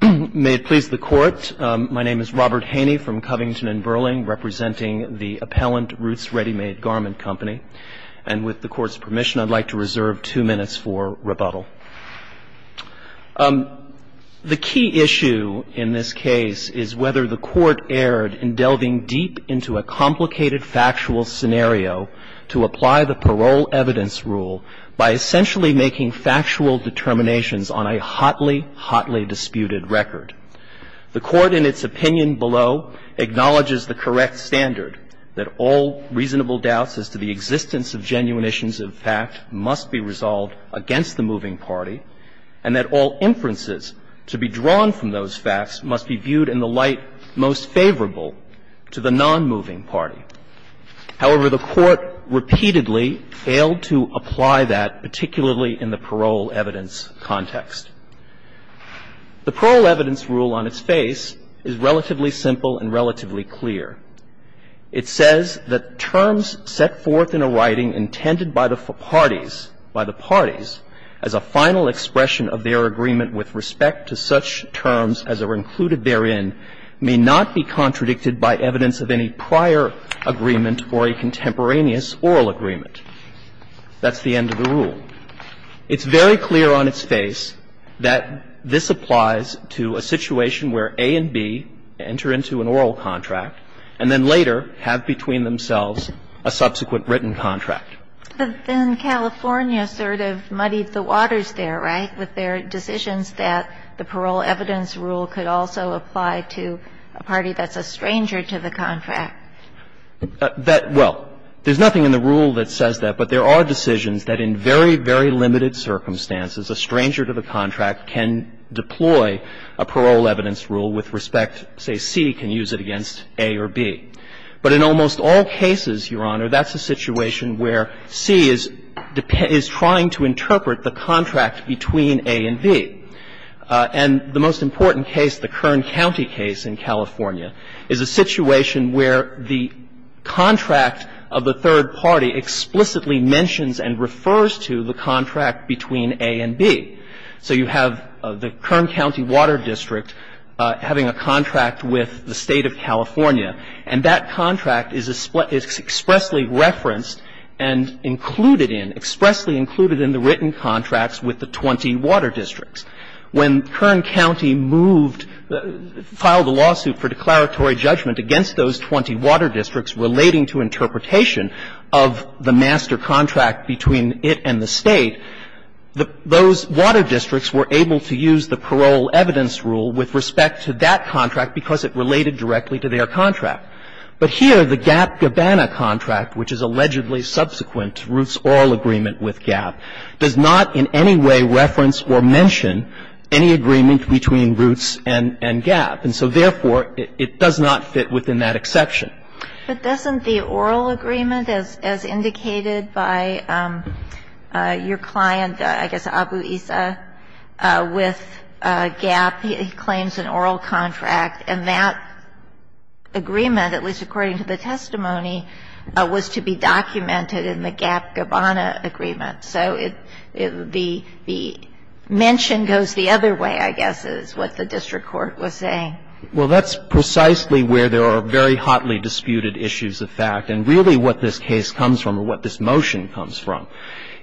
May it please the Court, my name is Robert Haney from Covington & Burling, representing the Appellant Roots Ready Made Garment Company, and with the Court's permission, I'd like to reserve two minutes for rebuttal. The key issue in this case is whether the Court erred in delving deep into a complicated factual scenario to apply the parole evidence rule by essentially making factual determinations on a hotly, hotly disputed record. The Court, in its opinion below, acknowledges the correct standard, that all reasonable doubts as to the existence of genuine issues of fact must be resolved against the moving party, and that all inferences to be drawn from those facts must be viewed in the light most favorable to the nonmoving party. However, the Court repeatedly failed to apply that, particularly in the parole evidence context. The parole evidence rule on its face is relatively simple and relatively clear. It says that terms set forth in a writing intended by the parties, by the parties, as a final expression of their agreement with respect to such terms as are included therein may not be contradicted by evidence of any prior agreement or a contemporaneous oral agreement. That's the end of the rule. It's very clear on its face that this applies to a situation where A and B enter into an oral contract and then later have between themselves a subsequent written contract. But then California sort of muddied the waters there, right, with their decisions that the parole evidence rule could also apply to a party that's a stranger to the contract. That – well, there's nothing in the rule that says that, but there are decisions that in very, very limited circumstances, a stranger to the contract can deploy a parole evidence rule with respect, say, C can use it against A or B. But in almost all cases, Your Honor, that's a situation where C is trying to interpret the contract between A and B. And the most important case, the Kern County case in California, is a situation where the contract of the third party explicitly mentions and refers to the contract between A and B. So you have the Kern County Water District having a contract with the State of California, and that contract is expressly referenced and included in, expressly included in the written contracts with the 20 water districts. When Kern County moved, filed a lawsuit for declaratory judgment against those 20 water districts relating to interpretation of the master contract between it and the State, those water districts were able to use the parole evidence rule with respect to that contract because it related directly to their contract. But here, the GAP-Gabana contract, which is allegedly subsequent to Roots Oral Agreement with GAP, does not in any way reference or mention any agreement between Roots and GAP. And so, therefore, it does not fit within that exception. But doesn't the oral agreement, as indicated by your client, I guess Abu Issa, with GAP, he claims an oral contract, and that agreement, at least according to the testimony, was to be documented in the GAP-Gabana agreement. So it would be the mention goes the other way, I guess, is what the district court was saying. Well, that's precisely where there are very hotly disputed issues of fact. And really what this case comes from, or what this motion comes from,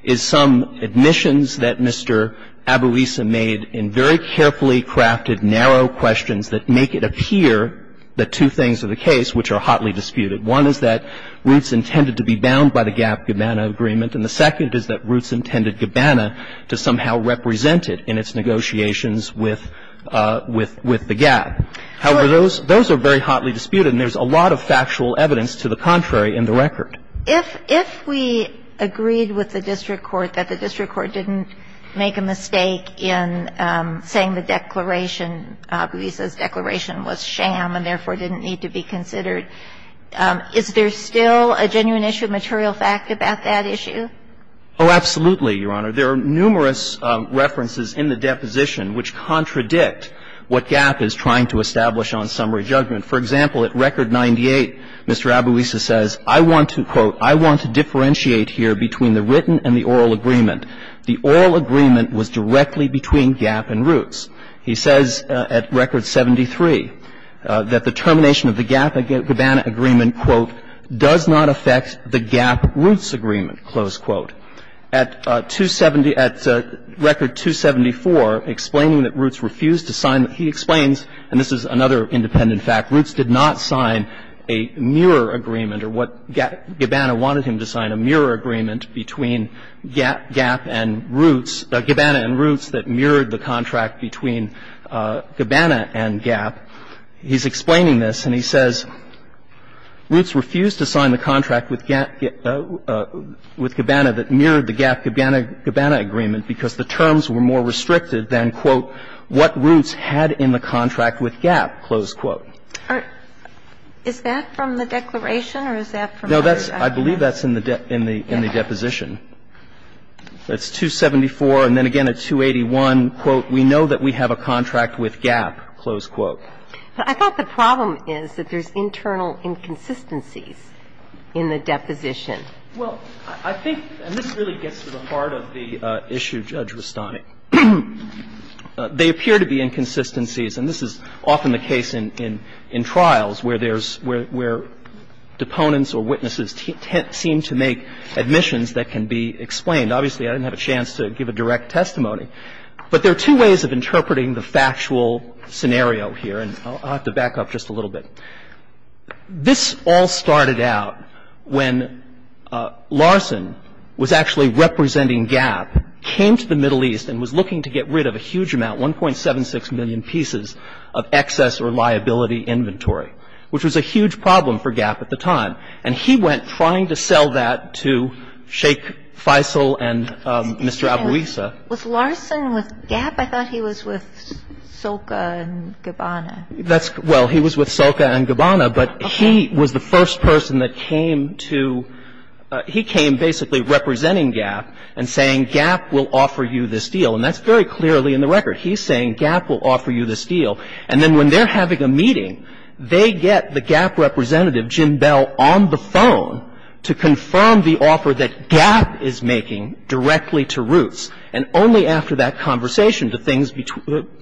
is some admissions that Mr. Abu Issa made in very carefully crafted, narrow questions that make it appear the two things of the case which are hotly disputed. One is that Roots intended to be bound by the GAP-Gabana agreement, and the second is that Roots intended Gabana to somehow represent it in its negotiations with the GAP. However, those are very hotly disputed, and there's a lot of factual evidence to the contrary in the record. If we agreed with the district court that the district court didn't make a mistake in saying the declaration, Abu Issa's declaration, was sham and therefore didn't need to be considered, is there still a genuine issue of material fact about that issue? Oh, absolutely, Your Honor. There are numerous references in the deposition which contradict what GAP is trying to establish on summary judgment. For example, at record 98, Mr. Abu Issa says, I want to, quote, I want to differentiate here between the written and the oral agreement. The oral agreement was directly between GAP and Roots. He says at record 73 that the termination of the GAP-Gabana agreement, quote, does not affect the GAP-Roots agreement, close quote. At 270 at record 274, explaining that Roots refused to sign, he explains, and this is another independent fact, Roots did not sign a mirror agreement or what GABANA wanted him to sign, a mirror agreement between GAP and Roots, Gabana and Roots that mirrored the contract between Gabana and GAP. He's explaining this, and he says, Roots refused to sign the contract with GABANA that mirrored the GAP-Gabana agreement because the terms were more restricted than, quote, what Roots had in the contract with GAP, close quote. Is that from the declaration or is that from the record? No, that's – I believe that's in the deposition. It's 274, and then again at 281, quote, we know that we have a contract with GAP, close quote. But I thought the problem is that there's internal inconsistencies in the deposition. Well, I think – and this really gets to the heart of the issue, Judge Rastani. They appear to be inconsistencies, and this is often the case in trials where there's – where deponents or witnesses seem to make admissions that can be explained. Obviously, I didn't have a chance to give a direct testimony, but there are two ways of interpreting the factual scenario here, and I'll have to back up just a little bit. This all started out when Larson was actually representing GAP, came to the Middle East and was looking to get rid of a huge amount, 1.76 million pieces of excess or liability inventory, which was a huge problem for GAP at the time. And he went trying to sell that to Sheikh Faisal and Mr. Abuisa. Was Larson with GAP? I thought he was with Soka and Gabbana. That's – well, he was with Soka and Gabbana, but he was the first person that came to – he came basically representing GAP and saying GAP will offer you this deal. And that's very clearly in the record. He's saying GAP will offer you this deal. And then when they're having a meeting, they get the GAP representative, Jim Bell, and only after that conversation do things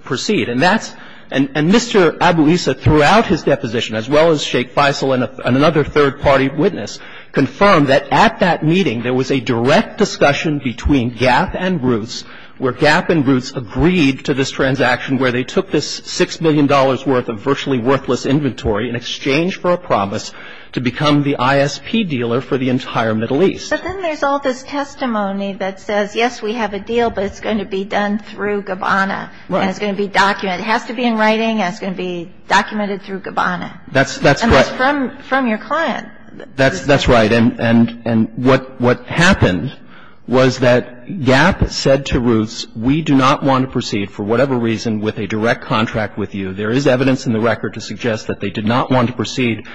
proceed. And that's – and Mr. Abuisa, throughout his deposition, as well as Sheikh Faisal and another third-party witness, confirmed that at that meeting there was a direct discussion between GAP and Roots, where GAP and Roots agreed to this transaction where they took this $6 million worth of virtually worthless inventory in exchange for a promise to become the ISP dealer for the entire Middle East. But then there's all this testimony that says, yes, we have a deal, but it's going to be done through Gabbana. Right. And it's going to be documented. It has to be in writing, and it's going to be documented through Gabbana. That's – that's what – And that's from – from your client. That's – that's right. And – and what – what happened was that GAP said to Roots, we do not want to proceed for whatever reason with a direct contract with you. There is evidence in the record to suggest that they did not want to proceed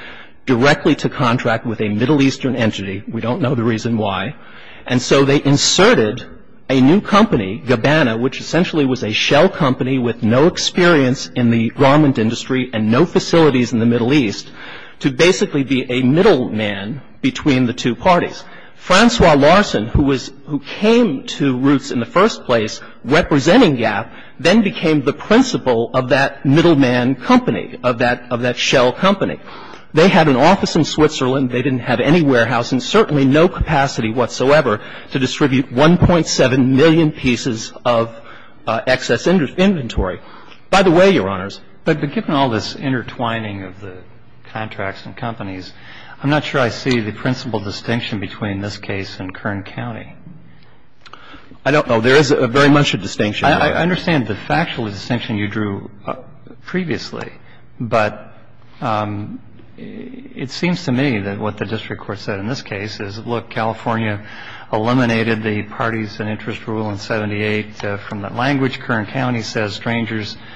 directly to contract with a Middle Eastern entity. We don't know the reason why. And so they inserted a new company, Gabbana, which essentially was a shell company with no experience in the garment industry and no facilities in the Middle East, to basically be a middleman between the two parties. Francois Larson, who was – who came to Roots in the first place representing GAP, then became the principal of that middleman company, of that – of that shell company. They had an office in Switzerland. They didn't have any warehouse and certainly no capacity whatsoever to distribute 1.7 million pieces of excess inventory. By the way, Your Honors, but given all this intertwining of the contracts and companies, I'm not sure I see the principal distinction between this case and Kern County. I don't know. There is very much a distinction. I understand the factual distinction you drew previously, but it seems to me that what the district court said in this case is, look, California eliminated the parties and interest rule in 78 from the language. Kern County says strangers –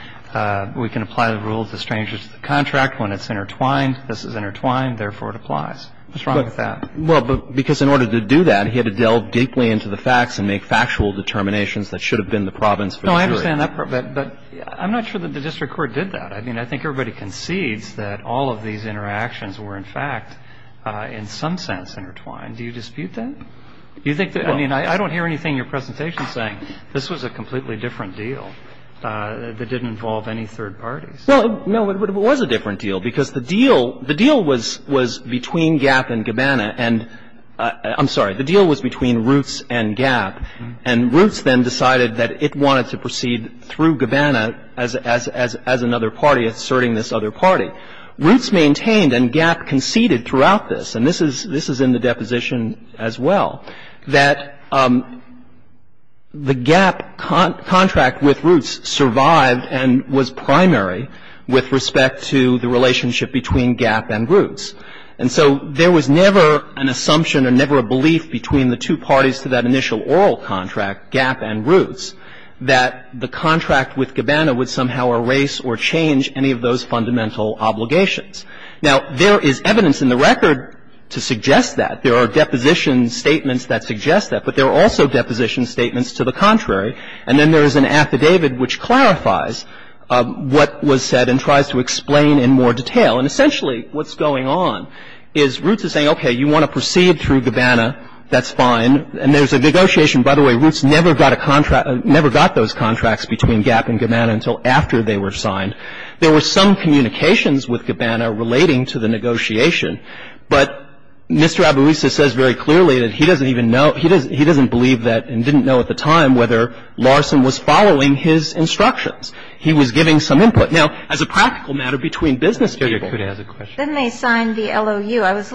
we can apply the rules to strangers to the contract when it's intertwined. This is intertwined. Therefore, it applies. What's wrong with that? Well, because in order to do that, he had to delve deeply into the facts and make factual determinations that should have been the province for the jury. No, I understand that, but I'm not sure that the district court did that. I mean, I think everybody concedes that all of these interactions were, in fact, in some sense intertwined. Do you dispute that? Do you think that – I mean, I don't hear anything in your presentation saying this was a completely different deal that didn't involve any third parties. Well, no, it was a different deal, because the deal – the deal was between Gap and Gabbana, and – I'm sorry. The deal was between Roots and Gap, and Roots then decided that it wanted to proceed through Gabbana as another party, asserting this other party. Roots maintained, and Gap conceded throughout this, and this is in the deposition as well, that the Gap contract with Roots survived and was primary with respect to the relationship between Gap and Roots. And so there was never an assumption or never a belief between the two parties to that initial oral contract, Gap and Roots, that the contract with Gabbana would somehow erase or change any of those fundamental obligations. Now, there is evidence in the record to suggest that. There are deposition statements that suggest that, but there are also deposition statements to the contrary. And then there is an affidavit which clarifies what was said and tries to explain in more detail. And essentially what's going on is Roots is saying, okay, you want to proceed through Gabbana, that's fine. And there's a negotiation. By the way, Roots never got a contract – never got those contracts between Gap and Gabbana until after they were signed. There were some communications with Gabbana relating to the negotiation. But Mr. Abouissa says very clearly that he doesn't even know – he doesn't believe that and didn't know at the time whether Larson was following his instructions. He was giving some input. Now, as a practical matter, between business people – And I'm not going to go into the details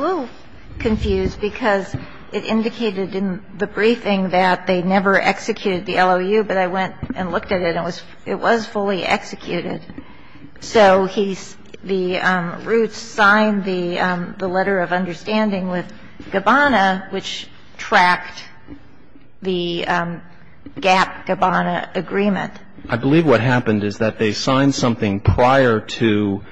of that, because it indicated in the briefing that they never executed the LOU, but I went and looked at it and it was fully executed. So he's – the – Roots signed the letter of understanding with Gabbana, which tracked the Gap-Gabbana agreement. I believe what happened is that they signed something prior to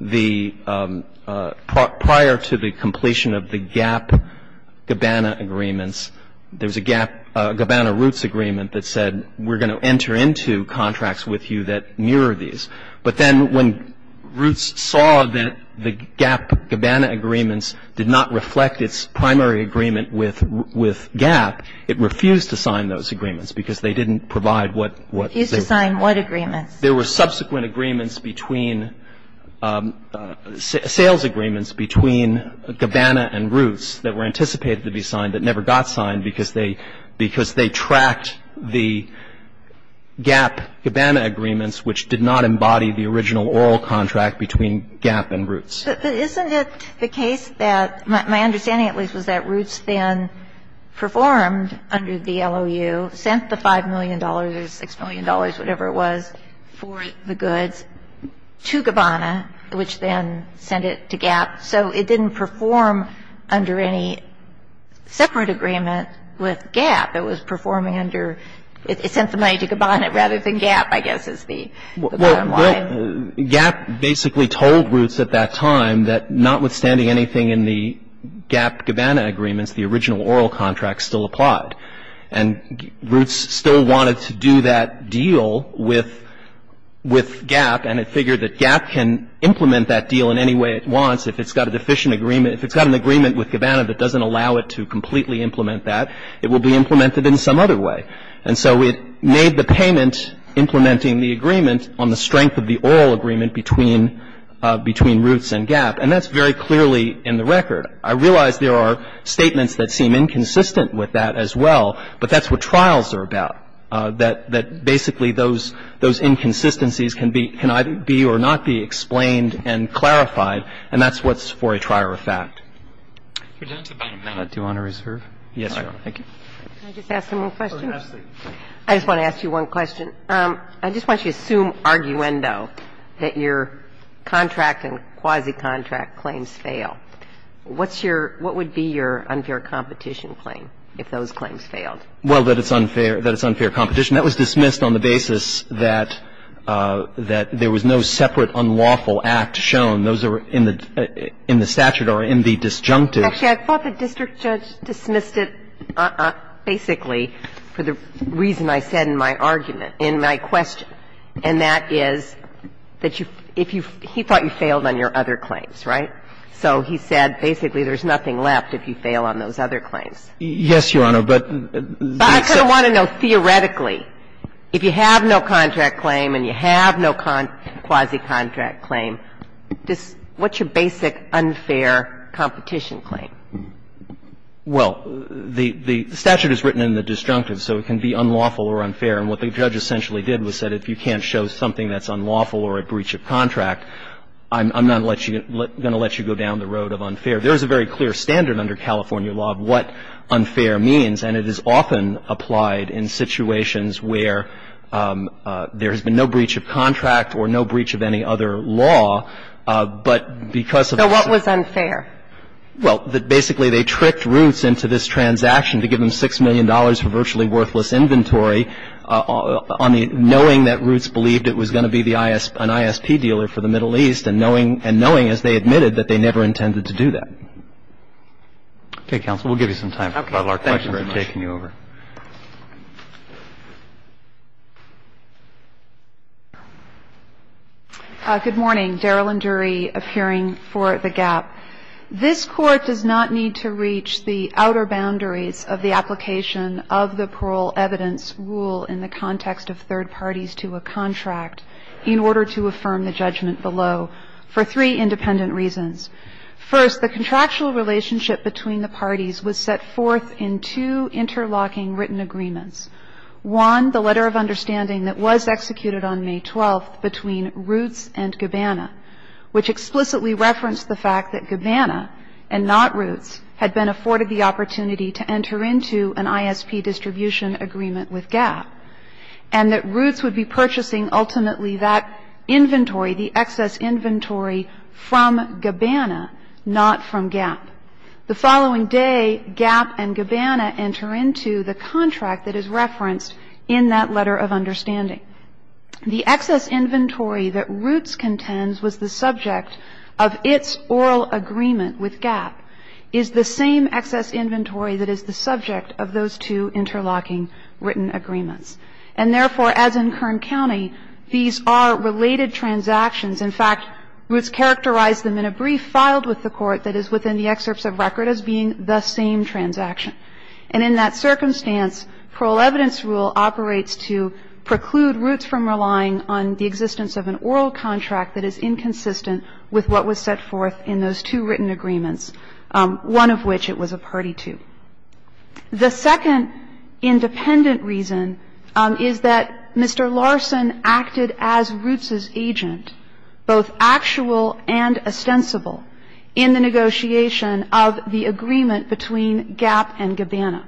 the – prior to the completion of the Gap-Gabbana agreements. There was a Gabbana-Roots agreement that said, we're going to enter into contracts with you that mirror these. But then when Roots saw that the Gap-Gabbana agreements did not reflect its primary agreement with Gap, it refused to sign those agreements because they didn't provide what – what they – Refused to sign what agreements? There were subsequent agreements between – sales agreements between Gabbana and Roots that were anticipated to be signed that never got signed because they – because they tracked the Gap-Gabbana agreements, which did not embody the original oral contract between Gap and Roots. But isn't it the case that – my understanding, at least, was that Roots then performed under the LOU, sent the $5 million or $6 million, whatever it was, to Gabbana for the goods to Gabbana, which then sent it to Gap. So it didn't perform under any separate agreement with Gap. It was performing under – it sent the money to Gabbana rather than Gap, I guess, is the bottom line. Well, Gap basically told Roots at that time that notwithstanding anything in the Gap-Gabbana agreements, the original oral contract still applied. And Roots still wanted to do that deal with Gap, and it figured that Gap can implement that deal in any way it wants if it's got a deficient agreement – if it's got an agreement with Gabbana that doesn't allow it to completely implement that, it will be implemented in some other way. And so it made the payment, implementing the agreement, on the strength of the oral agreement between Roots and Gap. And that's very clearly in the record. I realize there are statements that seem inconsistent with that as well, but that's what trials are about, that basically those inconsistencies can be – can either be or not be explained and clarified, and that's what's for a trier of fact. Do you want to reserve? Yes, Your Honor. Thank you. Can I just ask one more question? Oh, absolutely. I just want to ask you one question. I just want you to assume, arguendo, that your contract and quasi-contract claims fail. What's your – what would be your unfair competition claim if those claims failed? Well, that it's unfair – that it's unfair competition. That was dismissed on the basis that there was no separate unlawful act shown. Those are in the statute or in the disjunctive. Actually, I thought the district judge dismissed it basically for the reason I said in my argument, in my question, and that is that you – if you – he thought you failed on your other claims, right? So he said basically there's nothing left if you fail on those other claims. Yes, Your Honor, but the – But I kind of want to know, theoretically, if you have no contract claim and you have no quasi-contract claim, just what's your basic unfair competition claim? Well, the statute is written in the disjunctive, so it can be unlawful or unfair. And what the judge essentially did was said, if you can't show something that's unlawful or a breach of contract, I'm not going to let you go down the road of unfair. There is a very clear standard under California law of what unfair means, and it is often applied in situations where there has been no breach of contract or no breach of any other law, but because of the – So what was unfair? Well, that basically they tricked Roots into this transaction to give them $6 million for virtually worthless inventory on the – knowing that Roots believed it was going to be the – an ISP dealer for the Middle East, and knowing – and knowing, as they admitted, that they never intended to do that. Okay, counsel, we'll give you some time for a couple of questions before taking you over. Okay. Thank you very much. Good morning. Daryl and Dury of Hearing for the Gap. This Court does not need to reach the outer boundaries of the application of the parole evidence rule in the context of third parties to a contract in order to affirm the judgment below for three independent reasons. First, the contractual relationship between the parties was set forth in two interlocking agreements. One, the letter of understanding that was executed on May 12th between Roots and Gabbana, which explicitly referenced the fact that Gabbana and not Roots had been afforded the opportunity to enter into an ISP distribution agreement with Gap, and that Roots would be purchasing ultimately that inventory, the excess inventory, from Gabbana, not from Gap. The following day, Gap and Gabbana enter into the contract that is referenced in that letter of understanding. The excess inventory that Roots contends was the subject of its oral agreement with Gap is the same excess inventory that is the subject of those two interlocking written agreements. And therefore, as in Kern County, these are related transactions. In fact, Roots characterized them in a brief filed with the Court that is within the excerpts of record as being the same transaction. And in that circumstance, parole evidence rule operates to preclude Roots from relying on the existence of an oral contract that is inconsistent with what was set forth in those two written agreements, one of which it was a party to. The second independent reason is that Mr. Larson acted as Roots's agent, and he was both actual and ostensible in the negotiation of the agreement between Gap and Gabbana.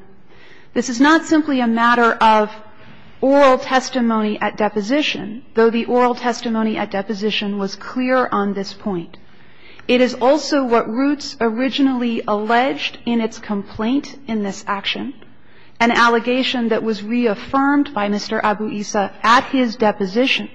This is not simply a matter of oral testimony at deposition, though the oral testimony at deposition was clear on this point. It is also what Roots originally alleged in its complaint in this action, an allegation that was reaffirmed by Mr. Abu-Issa at his deposition.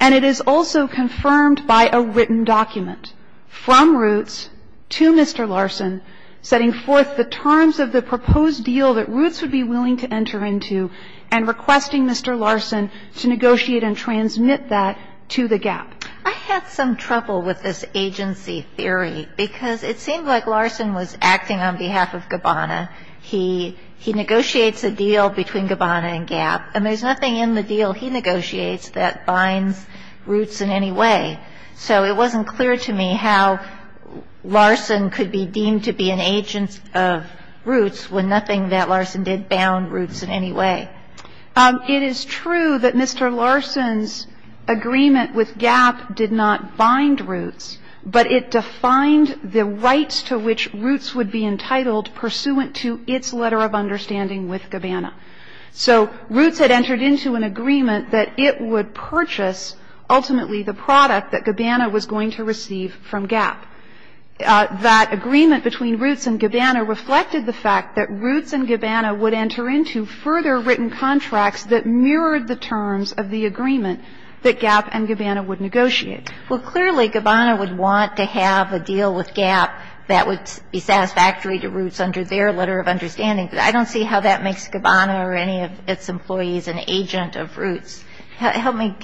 And it is also confirmed by a written document from Roots to Mr. Larson setting forth the terms of the proposed deal that Roots would be willing to enter into and requesting Mr. Larson to negotiate and transmit that to the Gap. I had some trouble with this agency theory, because it seemed like Larson was acting on behalf of Gabbana. He negotiates a deal between Gabbana and Gap, and there's nothing in the deal he negotiates that binds Roots in any way. So it wasn't clear to me how Larson could be deemed to be an agent of Roots when nothing that Larson did bound Roots in any way. It is true that Mr. Larson's agreement with Gap did not bind Roots, but it defined the rights to which Roots would be entitled pursuant to its letter of understanding with Gabbana. So Roots had entered into an agreement that it would purchase ultimately the product that Gabbana was going to receive from Gap. That agreement between Roots and Gabbana reflected the fact that Roots and Gabbana would enter into further written contracts that mirrored the terms of the agreement that Gap and Gabbana would negotiate. Well, clearly, Gabbana would want to have a deal with Gap that would be satisfactory to Roots under their letter of understanding. I don't see how that makes Gabbana or any of its employees an agent of Roots. Help me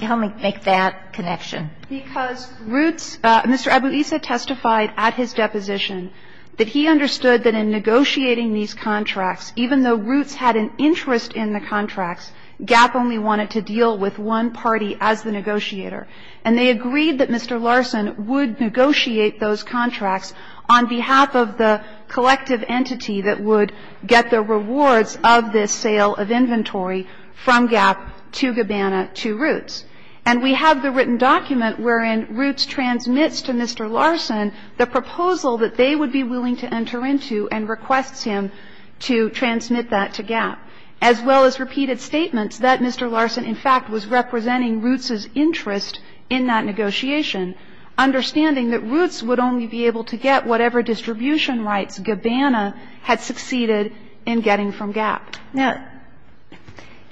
make that connection. Because Roots Mr. Abuisa testified at his deposition that he understood that in negotiating these contracts, even though Roots had an interest in the contracts, Gap only wanted to deal with one party as the negotiator. And they agreed that Mr. Larson would negotiate those contracts on behalf of the collective entity that would get the rewards of this sale of inventory from Gap to Gabbana to Roots. And we have the written document wherein Roots transmits to Mr. Larson the proposal that they would be willing to enter into and requests him to transmit that to Gap, as well as repeated statements that Mr. Larson, in fact, was representing Roots' interest in that negotiation, understanding that Roots would only be able to get whatever distribution rights Gabbana had succeeded in getting from Gap. Now,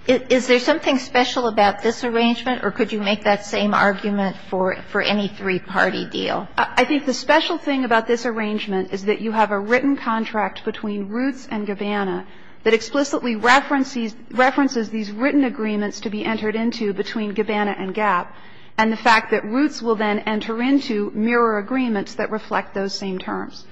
is there something special about this arrangement, or could you make that same argument for any three-party deal? I think the special thing about this arrangement is that you have a written contract between Roots and Gabbana that explicitly references these written agreements to be entered into between Gabbana and Gap, and the fact that Roots will then enter into mirror agreements that reflect those same terms.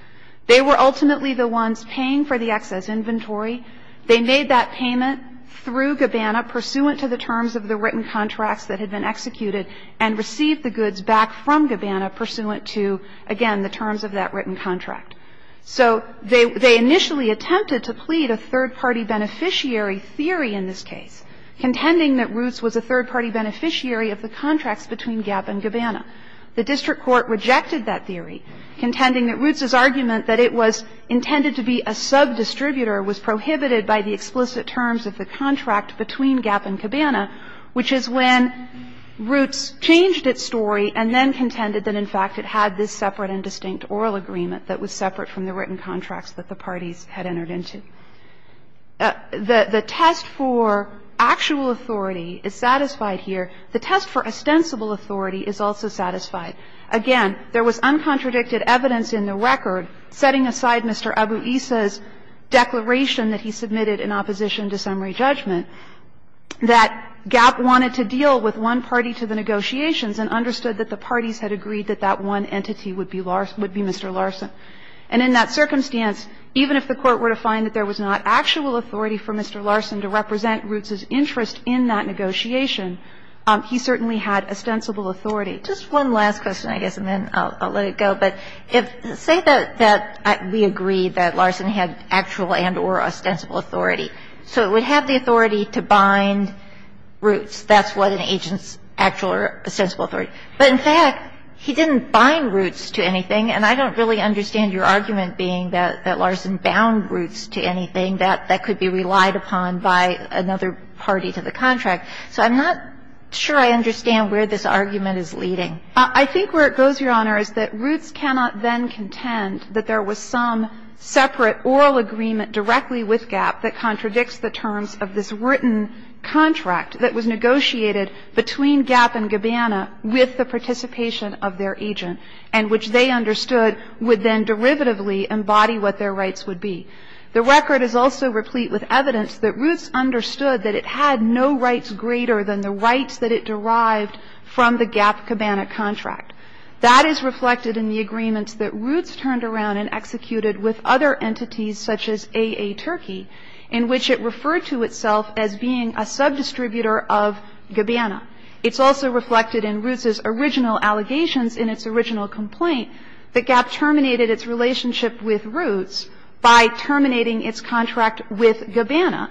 They were ultimately the ones paying for the excess inventory. They made that payment through Gabbana pursuant to the terms of the written contracts that had been executed and received the goods back from Gabbana pursuant to, again, the terms of that written contract. So they initially attempted to plead a third-party beneficiary theory in this case, contending that Roots was a third-party beneficiary of the contracts between Gap and Gabbana. The district court rejected that theory, contending that Roots's argument that it was intended to be a subdistributor was prohibited by the explicit terms of the contract between Gap and Gabbana, which is when Roots changed its story and then contended that, in fact, it had this separate and distinct oral agreement that was separate from the written contracts that the parties had entered into. The test for actual authority is satisfied here. The test for ostensible authority is also satisfied. Again, there was uncontradicted evidence in the record, setting aside Mr. Abu-Isa's declaration that he submitted in opposition to summary judgment, that Gap wanted to deal with one party to the negotiations and understood that the parties had agreed that that one entity would be Mr. Larson. And in that circumstance, even if the Court were to find that there was not actual authority for Mr. Larson to represent Roots's interest in that negotiation, he certainly had ostensible authority. Just one last question, I guess, and then I'll let it go. But say that we agree that Larson had actual and or ostensible authority. So it would have the authority to bind Roots. That's what an agent's actual or ostensible authority. But, in fact, he didn't bind Roots to anything. And I don't really understand your argument being that Larson bound Roots to anything. I mean, that could be relied upon by another party to the contract. So I'm not sure I understand where this argument is leading. I think where it goes, Your Honor, is that Roots cannot then contend that there was some separate oral agreement directly with Gap that contradicts the terms of this written contract that was negotiated between Gap and Gabbana with the participation of their agent, and which they understood would then derivatively embody what their rights would be. The record is also replete with evidence that Roots understood that it had no rights greater than the rights that it derived from the Gap-Gabbana contract. That is reflected in the agreements that Roots turned around and executed with other entities such as A.A. Turkey, in which it referred to itself as being a subdistributor of Gabbana. It's also reflected in Roots' original allegations in its original complaint that Gap terminated its relationship with Roots by terminating its contract with Gabbana,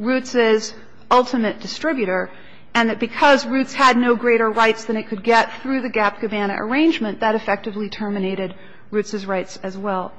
Roots' ultimate distributor, and that because Roots had no greater rights than it could get through the Gap-Gabbana arrangement, that effectively terminated Roots' rights as well.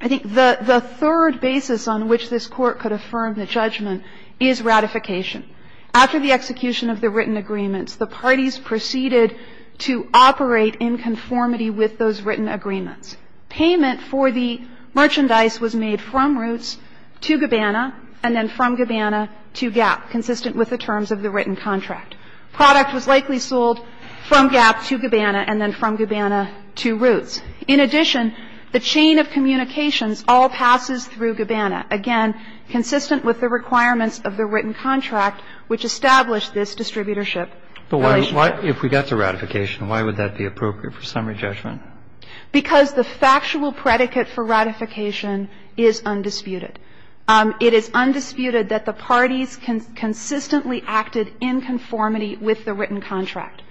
I think the third basis on which this Court could affirm the judgment is ratification. After the execution of the written agreements, the parties proceeded to operate in conformity with those written agreements. Payment for the merchandise was made from Roots to Gabbana and then from Gabbana to Gap, consistent with the terms of the written contract. Product was likely sold from Gap to Gabbana and then from Gabbana to Roots. In addition, the chain of communications all passes through Gabbana, again, consistent with the requirements of the written contract which established this distributorship relationship. If we got to ratification, why would that be appropriate for summary judgment? Because the factual predicate for ratification is undisputed. It is undisputed that the parties consistently acted in conformity with the written contract.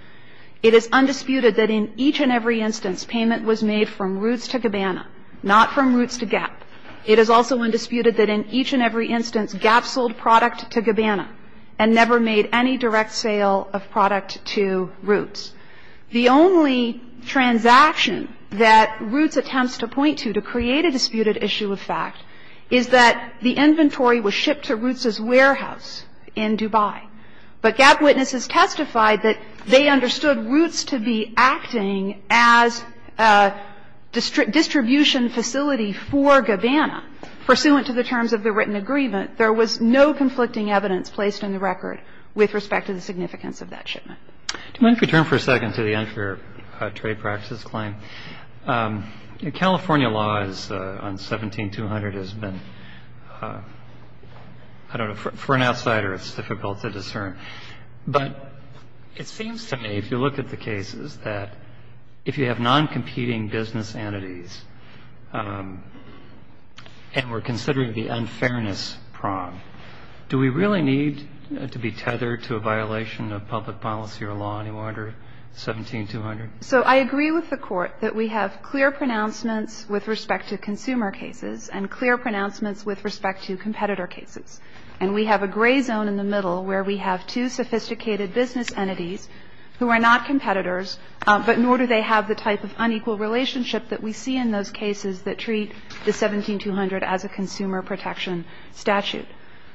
It is undisputed that in each and every instance, payment was made from Roots to Gabbana, not from Roots to Gap. It is also undisputed that in each and every instance, Gap sold product to Gabbana and never made any direct sale of product to Roots. The only transaction that Roots attempts to point to to create a disputed issue of fact is that the inventory was shipped to Roots's warehouse in Dubai. But Gap witnesses testified that they understood Roots to be acting as a distribution facility for Gabbana, pursuant to the terms of the written agreement. And so there was no conflict in the evidence placed in the record with respect to the significance of that shipment. Roberts. Do you mind if we turn for a second to the unfair trade practice claim? California law on 17-200 has been, I don't know, for an outsider it's difficult to discern. But it seems to me, if you look at the cases, that if you have non-competing business entities, and we're considering the unfairness prong, do we really need to be tethered to a violation of public policy or law any more under 17-200? So I agree with the Court that we have clear pronouncements with respect to consumer cases and clear pronouncements with respect to competitor cases. And we have a gray zone in the middle where we have two sophisticated business entities who are not competitors, but nor do they have the type of unequal relationship that we see in those cases that treat the 17-200 as a consumer protection statute.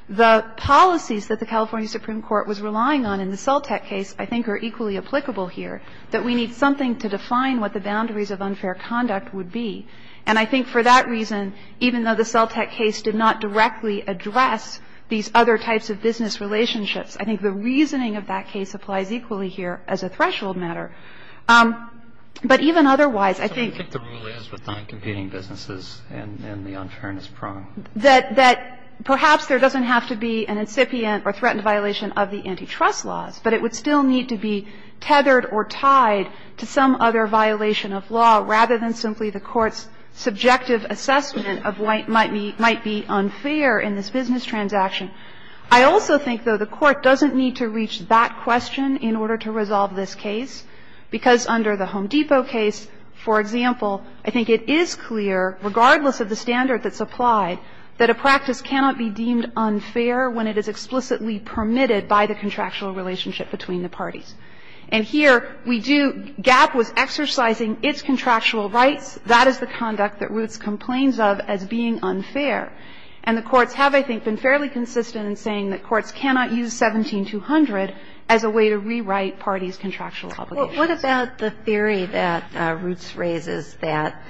The policies that the California Supreme Court was relying on in the Celtec case I think are equally applicable here, that we need something to define what the boundaries of unfair conduct would be. And I think for that reason, even though the Celtec case did not directly address these other types of business relationships, I think the reasoning of that case applies equally here as a threshold matter. But even otherwise, I think the rule is with non-competing businesses and the unfairness prong. That perhaps there doesn't have to be an incipient or threatened violation of the antitrust laws, but it would still need to be tethered or tied to some other violation of law rather than simply the Court's subjective assessment of what might be unfair in this business transaction. I also think, though, the Court doesn't need to reach that question in order to resolve this case. Because under the Home Depot case, for example, I think it is clear, regardless of the standard that's applied, that a practice cannot be deemed unfair when it is explicitly permitted by the contractual relationship between the parties. And here we do GAAP was exercising its contractual rights. That is the conduct that Roots complains of as being unfair. And the courts have, I think, been fairly consistent in saying that courts cannot use 17-200 as a way to rewrite parties' contractual obligations. What about the theory that Roots raises that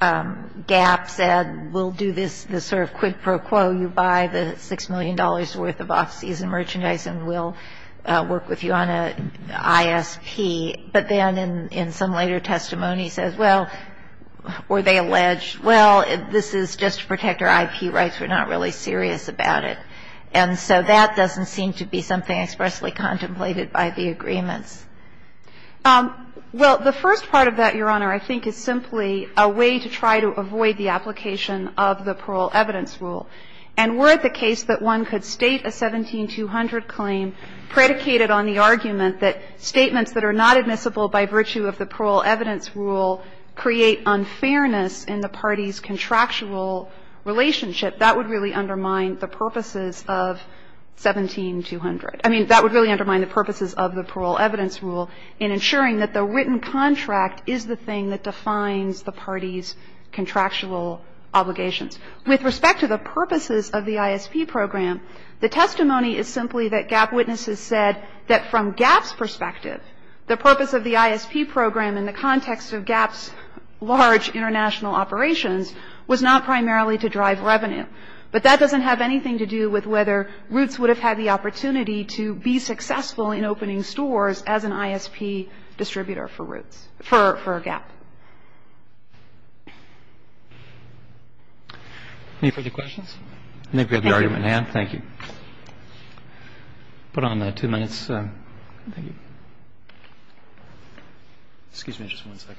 GAAP said, we'll do this sort of quid pro quo, you buy the $6 million worth of off-season merchandise and we'll work with you on an ISP, but then in some later testimony says, well, were they alleged? Well, this is just to protect our IP rights. We're not really serious about it. And so that doesn't seem to be something expressly contemplated by the agreements. Well, the first part of that, Your Honor, I think is simply a way to try to avoid the application of the parole evidence rule. And were it the case that one could state a 17-200 claim predicated on the argument that statements that are not admissible by virtue of the parole evidence rule create unfairness in the parties' contractual relationship, that would really undermine the purposes of 17-200. I mean, that would really undermine the purposes of the parole evidence rule in ensuring that the written contract is the thing that defines the parties' contractual obligations. With respect to the purposes of the ISP program, the testimony is simply that GAAP witnesses said that from GAAP's perspective, the purpose of the ISP program in the context of GAAP's large international operations was not primarily to drive revenue. But that doesn't have anything to do with whether Roots would have had the opportunity to be successful in opening stores as an ISP distributor for Roots, for GAAP. Any further questions? I think we have the argument, ma'am. Thank you. Put on the two minutes. Thank you. Excuse me just one second.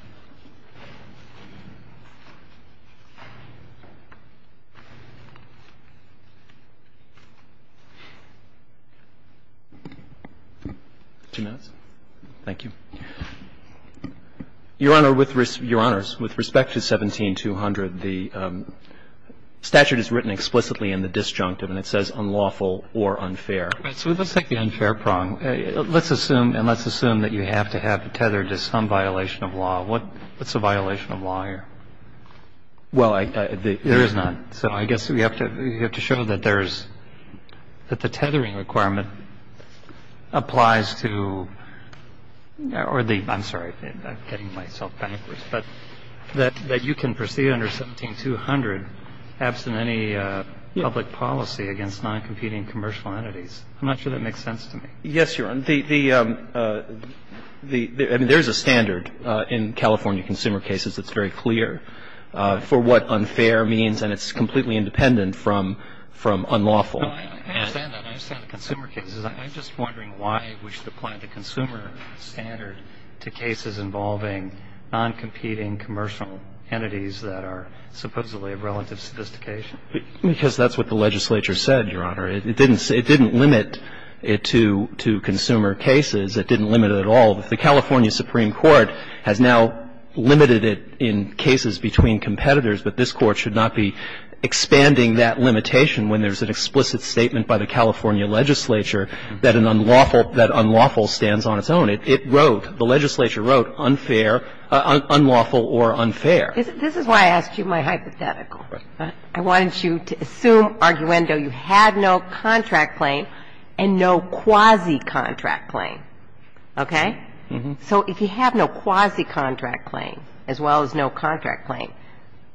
Two minutes. Thank you. Your Honor, with respect to 17-200, the statute is written explicitly in the disjunctive and it says unlawful or unfair. So let's take the unfair prong. Let's assume, and let's assume that you have to have it tethered to some violation of law. What's a violation of law here? Well, there is none. So I guess we have to show that there's the tethering requirement applies to or the – I'm sorry. I'm getting myself backwards. But that you can proceed under 17-200 absent any public policy against noncompeting commercial entities. I'm not sure that makes sense to me. Yes, Your Honor. There is a standard in California consumer cases that's very clear for what unfair means, and it's completely independent from unlawful. I understand that. I understand the consumer cases. I'm just wondering why we should apply the consumer standard to cases involving noncompeting commercial entities that are supposedly of relative sophistication. Because that's what the legislature said, Your Honor. It didn't say – it didn't limit it to consumer cases. It didn't limit it at all. The California Supreme Court has now limited it in cases between competitors, but this Court should not be expanding that limitation when there's an explicit statement by the California legislature that an unlawful – that unlawful stands on its own. It wrote, the legislature wrote, unfair, unlawful or unfair. This is why I asked you my hypothetical. I wanted you to assume, Arguendo, you had no contract claim and no quasi-contract claim, okay? So if you have no quasi-contract claim as well as no contract claim,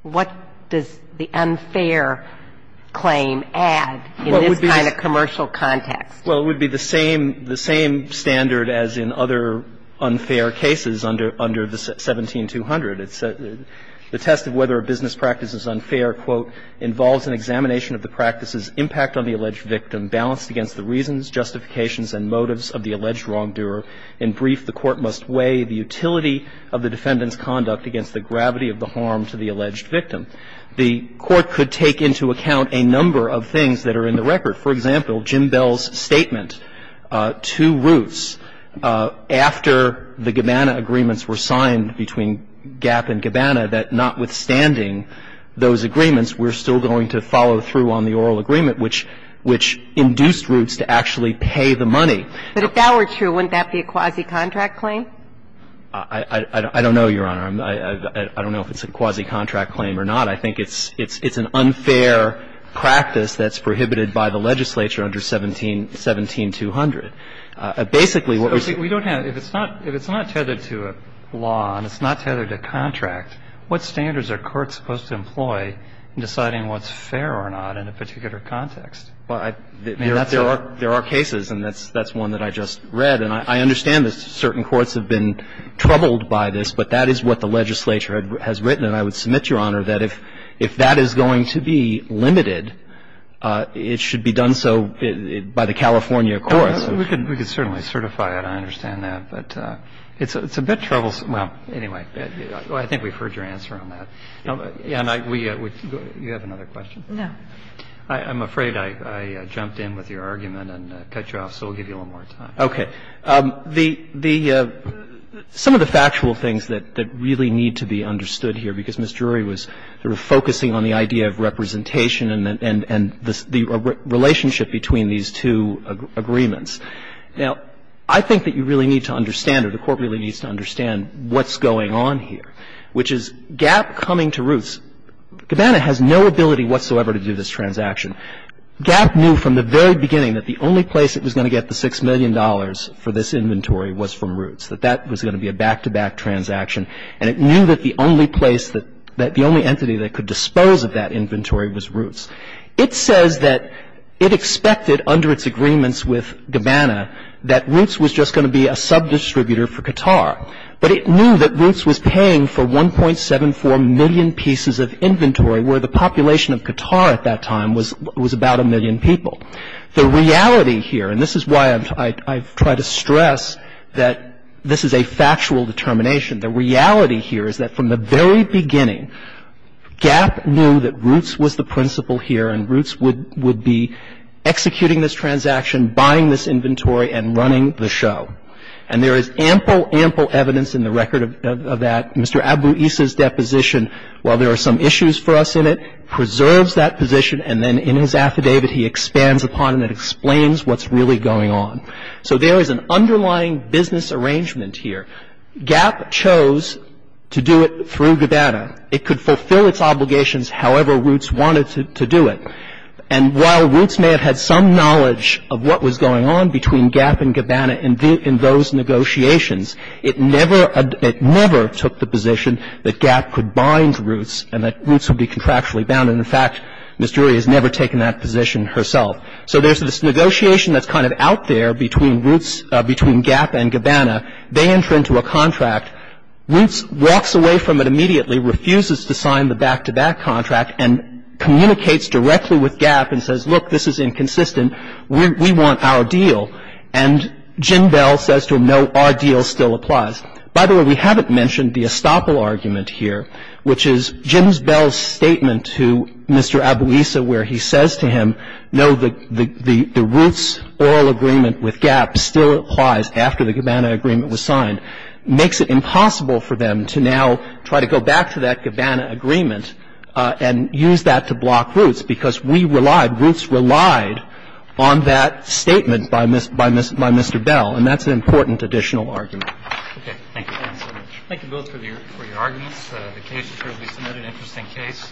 what does the unfair claim add in this kind of commercial context? Well, it would be the same – the same standard as in other unfair cases under the 17-200. It's a – the test of whether a business practice is unfair, quote, involves an examination of the practice's impact on the alleged victim, balanced against the reasons, justifications and motives of the alleged wrongdoer. In brief, the Court must weigh the utility of the defendant's conduct against the gravity of the harm to the alleged victim. The Court could take into account a number of things that are in the record. For example, Jim Bell's statement, two routes, after the Gabbana Agreements were signed between Gap and Gabbana, that notwithstanding those agreements, we're still going to follow through on the oral agreement, which – which induced routes to actually pay the money. But if that were true, wouldn't that be a quasi-contract claim? I don't know, Your Honor. I don't know if it's a quasi-contract claim or not. I think it's an unfair practice that's prohibited by the legislature under 17 – 17-200. Basically, what we're saying – So we don't have – if it's not – if it's not tethered to a law and it's not tethered to contract, what standards are courts supposed to employ in deciding what's fair or not in a particular context? Well, I – I mean, that's a – There are – there are cases, and that's – that's one that I just read. And I understand that certain courts have been troubled by this, but that is what the legislature has written. And I would submit, Your Honor, that if – if that is going to be limited, it should be done so by the California courts. We could – we could certainly certify it. I understand that. But it's a bit troublesome. Well, anyway, I think we've heard your answer on that. And I – we – you have another question? No. I'm afraid I jumped in with your argument and cut you off, so I'll give you a little more time. Okay. The – some of the factual things that really need to be understood here, because Ms. Drury was sort of focusing on the idea of representation and the relationship between these two agreements. Now, I think that you really need to understand, or the Court really needs to understand, what's going on here, which is GAP coming to Roots. Gabana has no ability whatsoever to do this transaction. GAP knew from the very beginning that the only place it was going to get the $6 million for this inventory was from Roots, that that was going to be a back-to-back transaction. And it knew that the only place that – that the only entity that could dispose of that inventory was Roots. It says that it expected, under its agreements with Gabana, that Roots was just going to be a sub-distributor for Qatar, but it knew that Roots was paying for 1.74 million pieces of inventory, where the population of Qatar at that time was about a million people. The reality here – and this is why I've tried to stress that this is a factual determination – the reality here is that from the very beginning, GAP knew that Roots was the principal here, and Roots would be executing this transaction, buying this inventory, and running the show. And there is ample, ample evidence in the record of that. Mr. Abu-Is' deposition, while there are some issues for us in it, preserves that position, and then in his affidavit, he expands upon it and explains what's really going on. So there is an underlying business arrangement here. GAP chose to do it through Gabana. It could fulfill its obligations however Roots wanted to do it. And while Roots may have had some knowledge of what was going on between GAP and Gabana in those negotiations, it never took the position that GAP could bind Roots and that Roots would be contractually bound. And, in fact, Ms. Drury has never taken that position herself. So there's this negotiation that's kind of out there between Roots, between GAP and Gabana. They enter into a contract. Roots walks away from it immediately, refuses to sign the back-to-back contract, and communicates directly with GAP and says, look, this is inconsistent. We want our deal. And Jim Bell says to him, no, our deal still applies. By the way, we haven't mentioned the estoppel argument here, which is Jim Bell's statement to Mr. Abu-Is' where he says to him, no, the Roots' oral agreement with GAP still applies after the Gabana agreement was signed. Makes it impossible for them to now try to go back to that Gabana agreement and use that to block Roots, because we relied, Roots relied on that statement by Mr. Bell, and that's an important additional argument. Roberts. Thank you. Thank you both for your arguments. The case is currently submitted, an interesting case.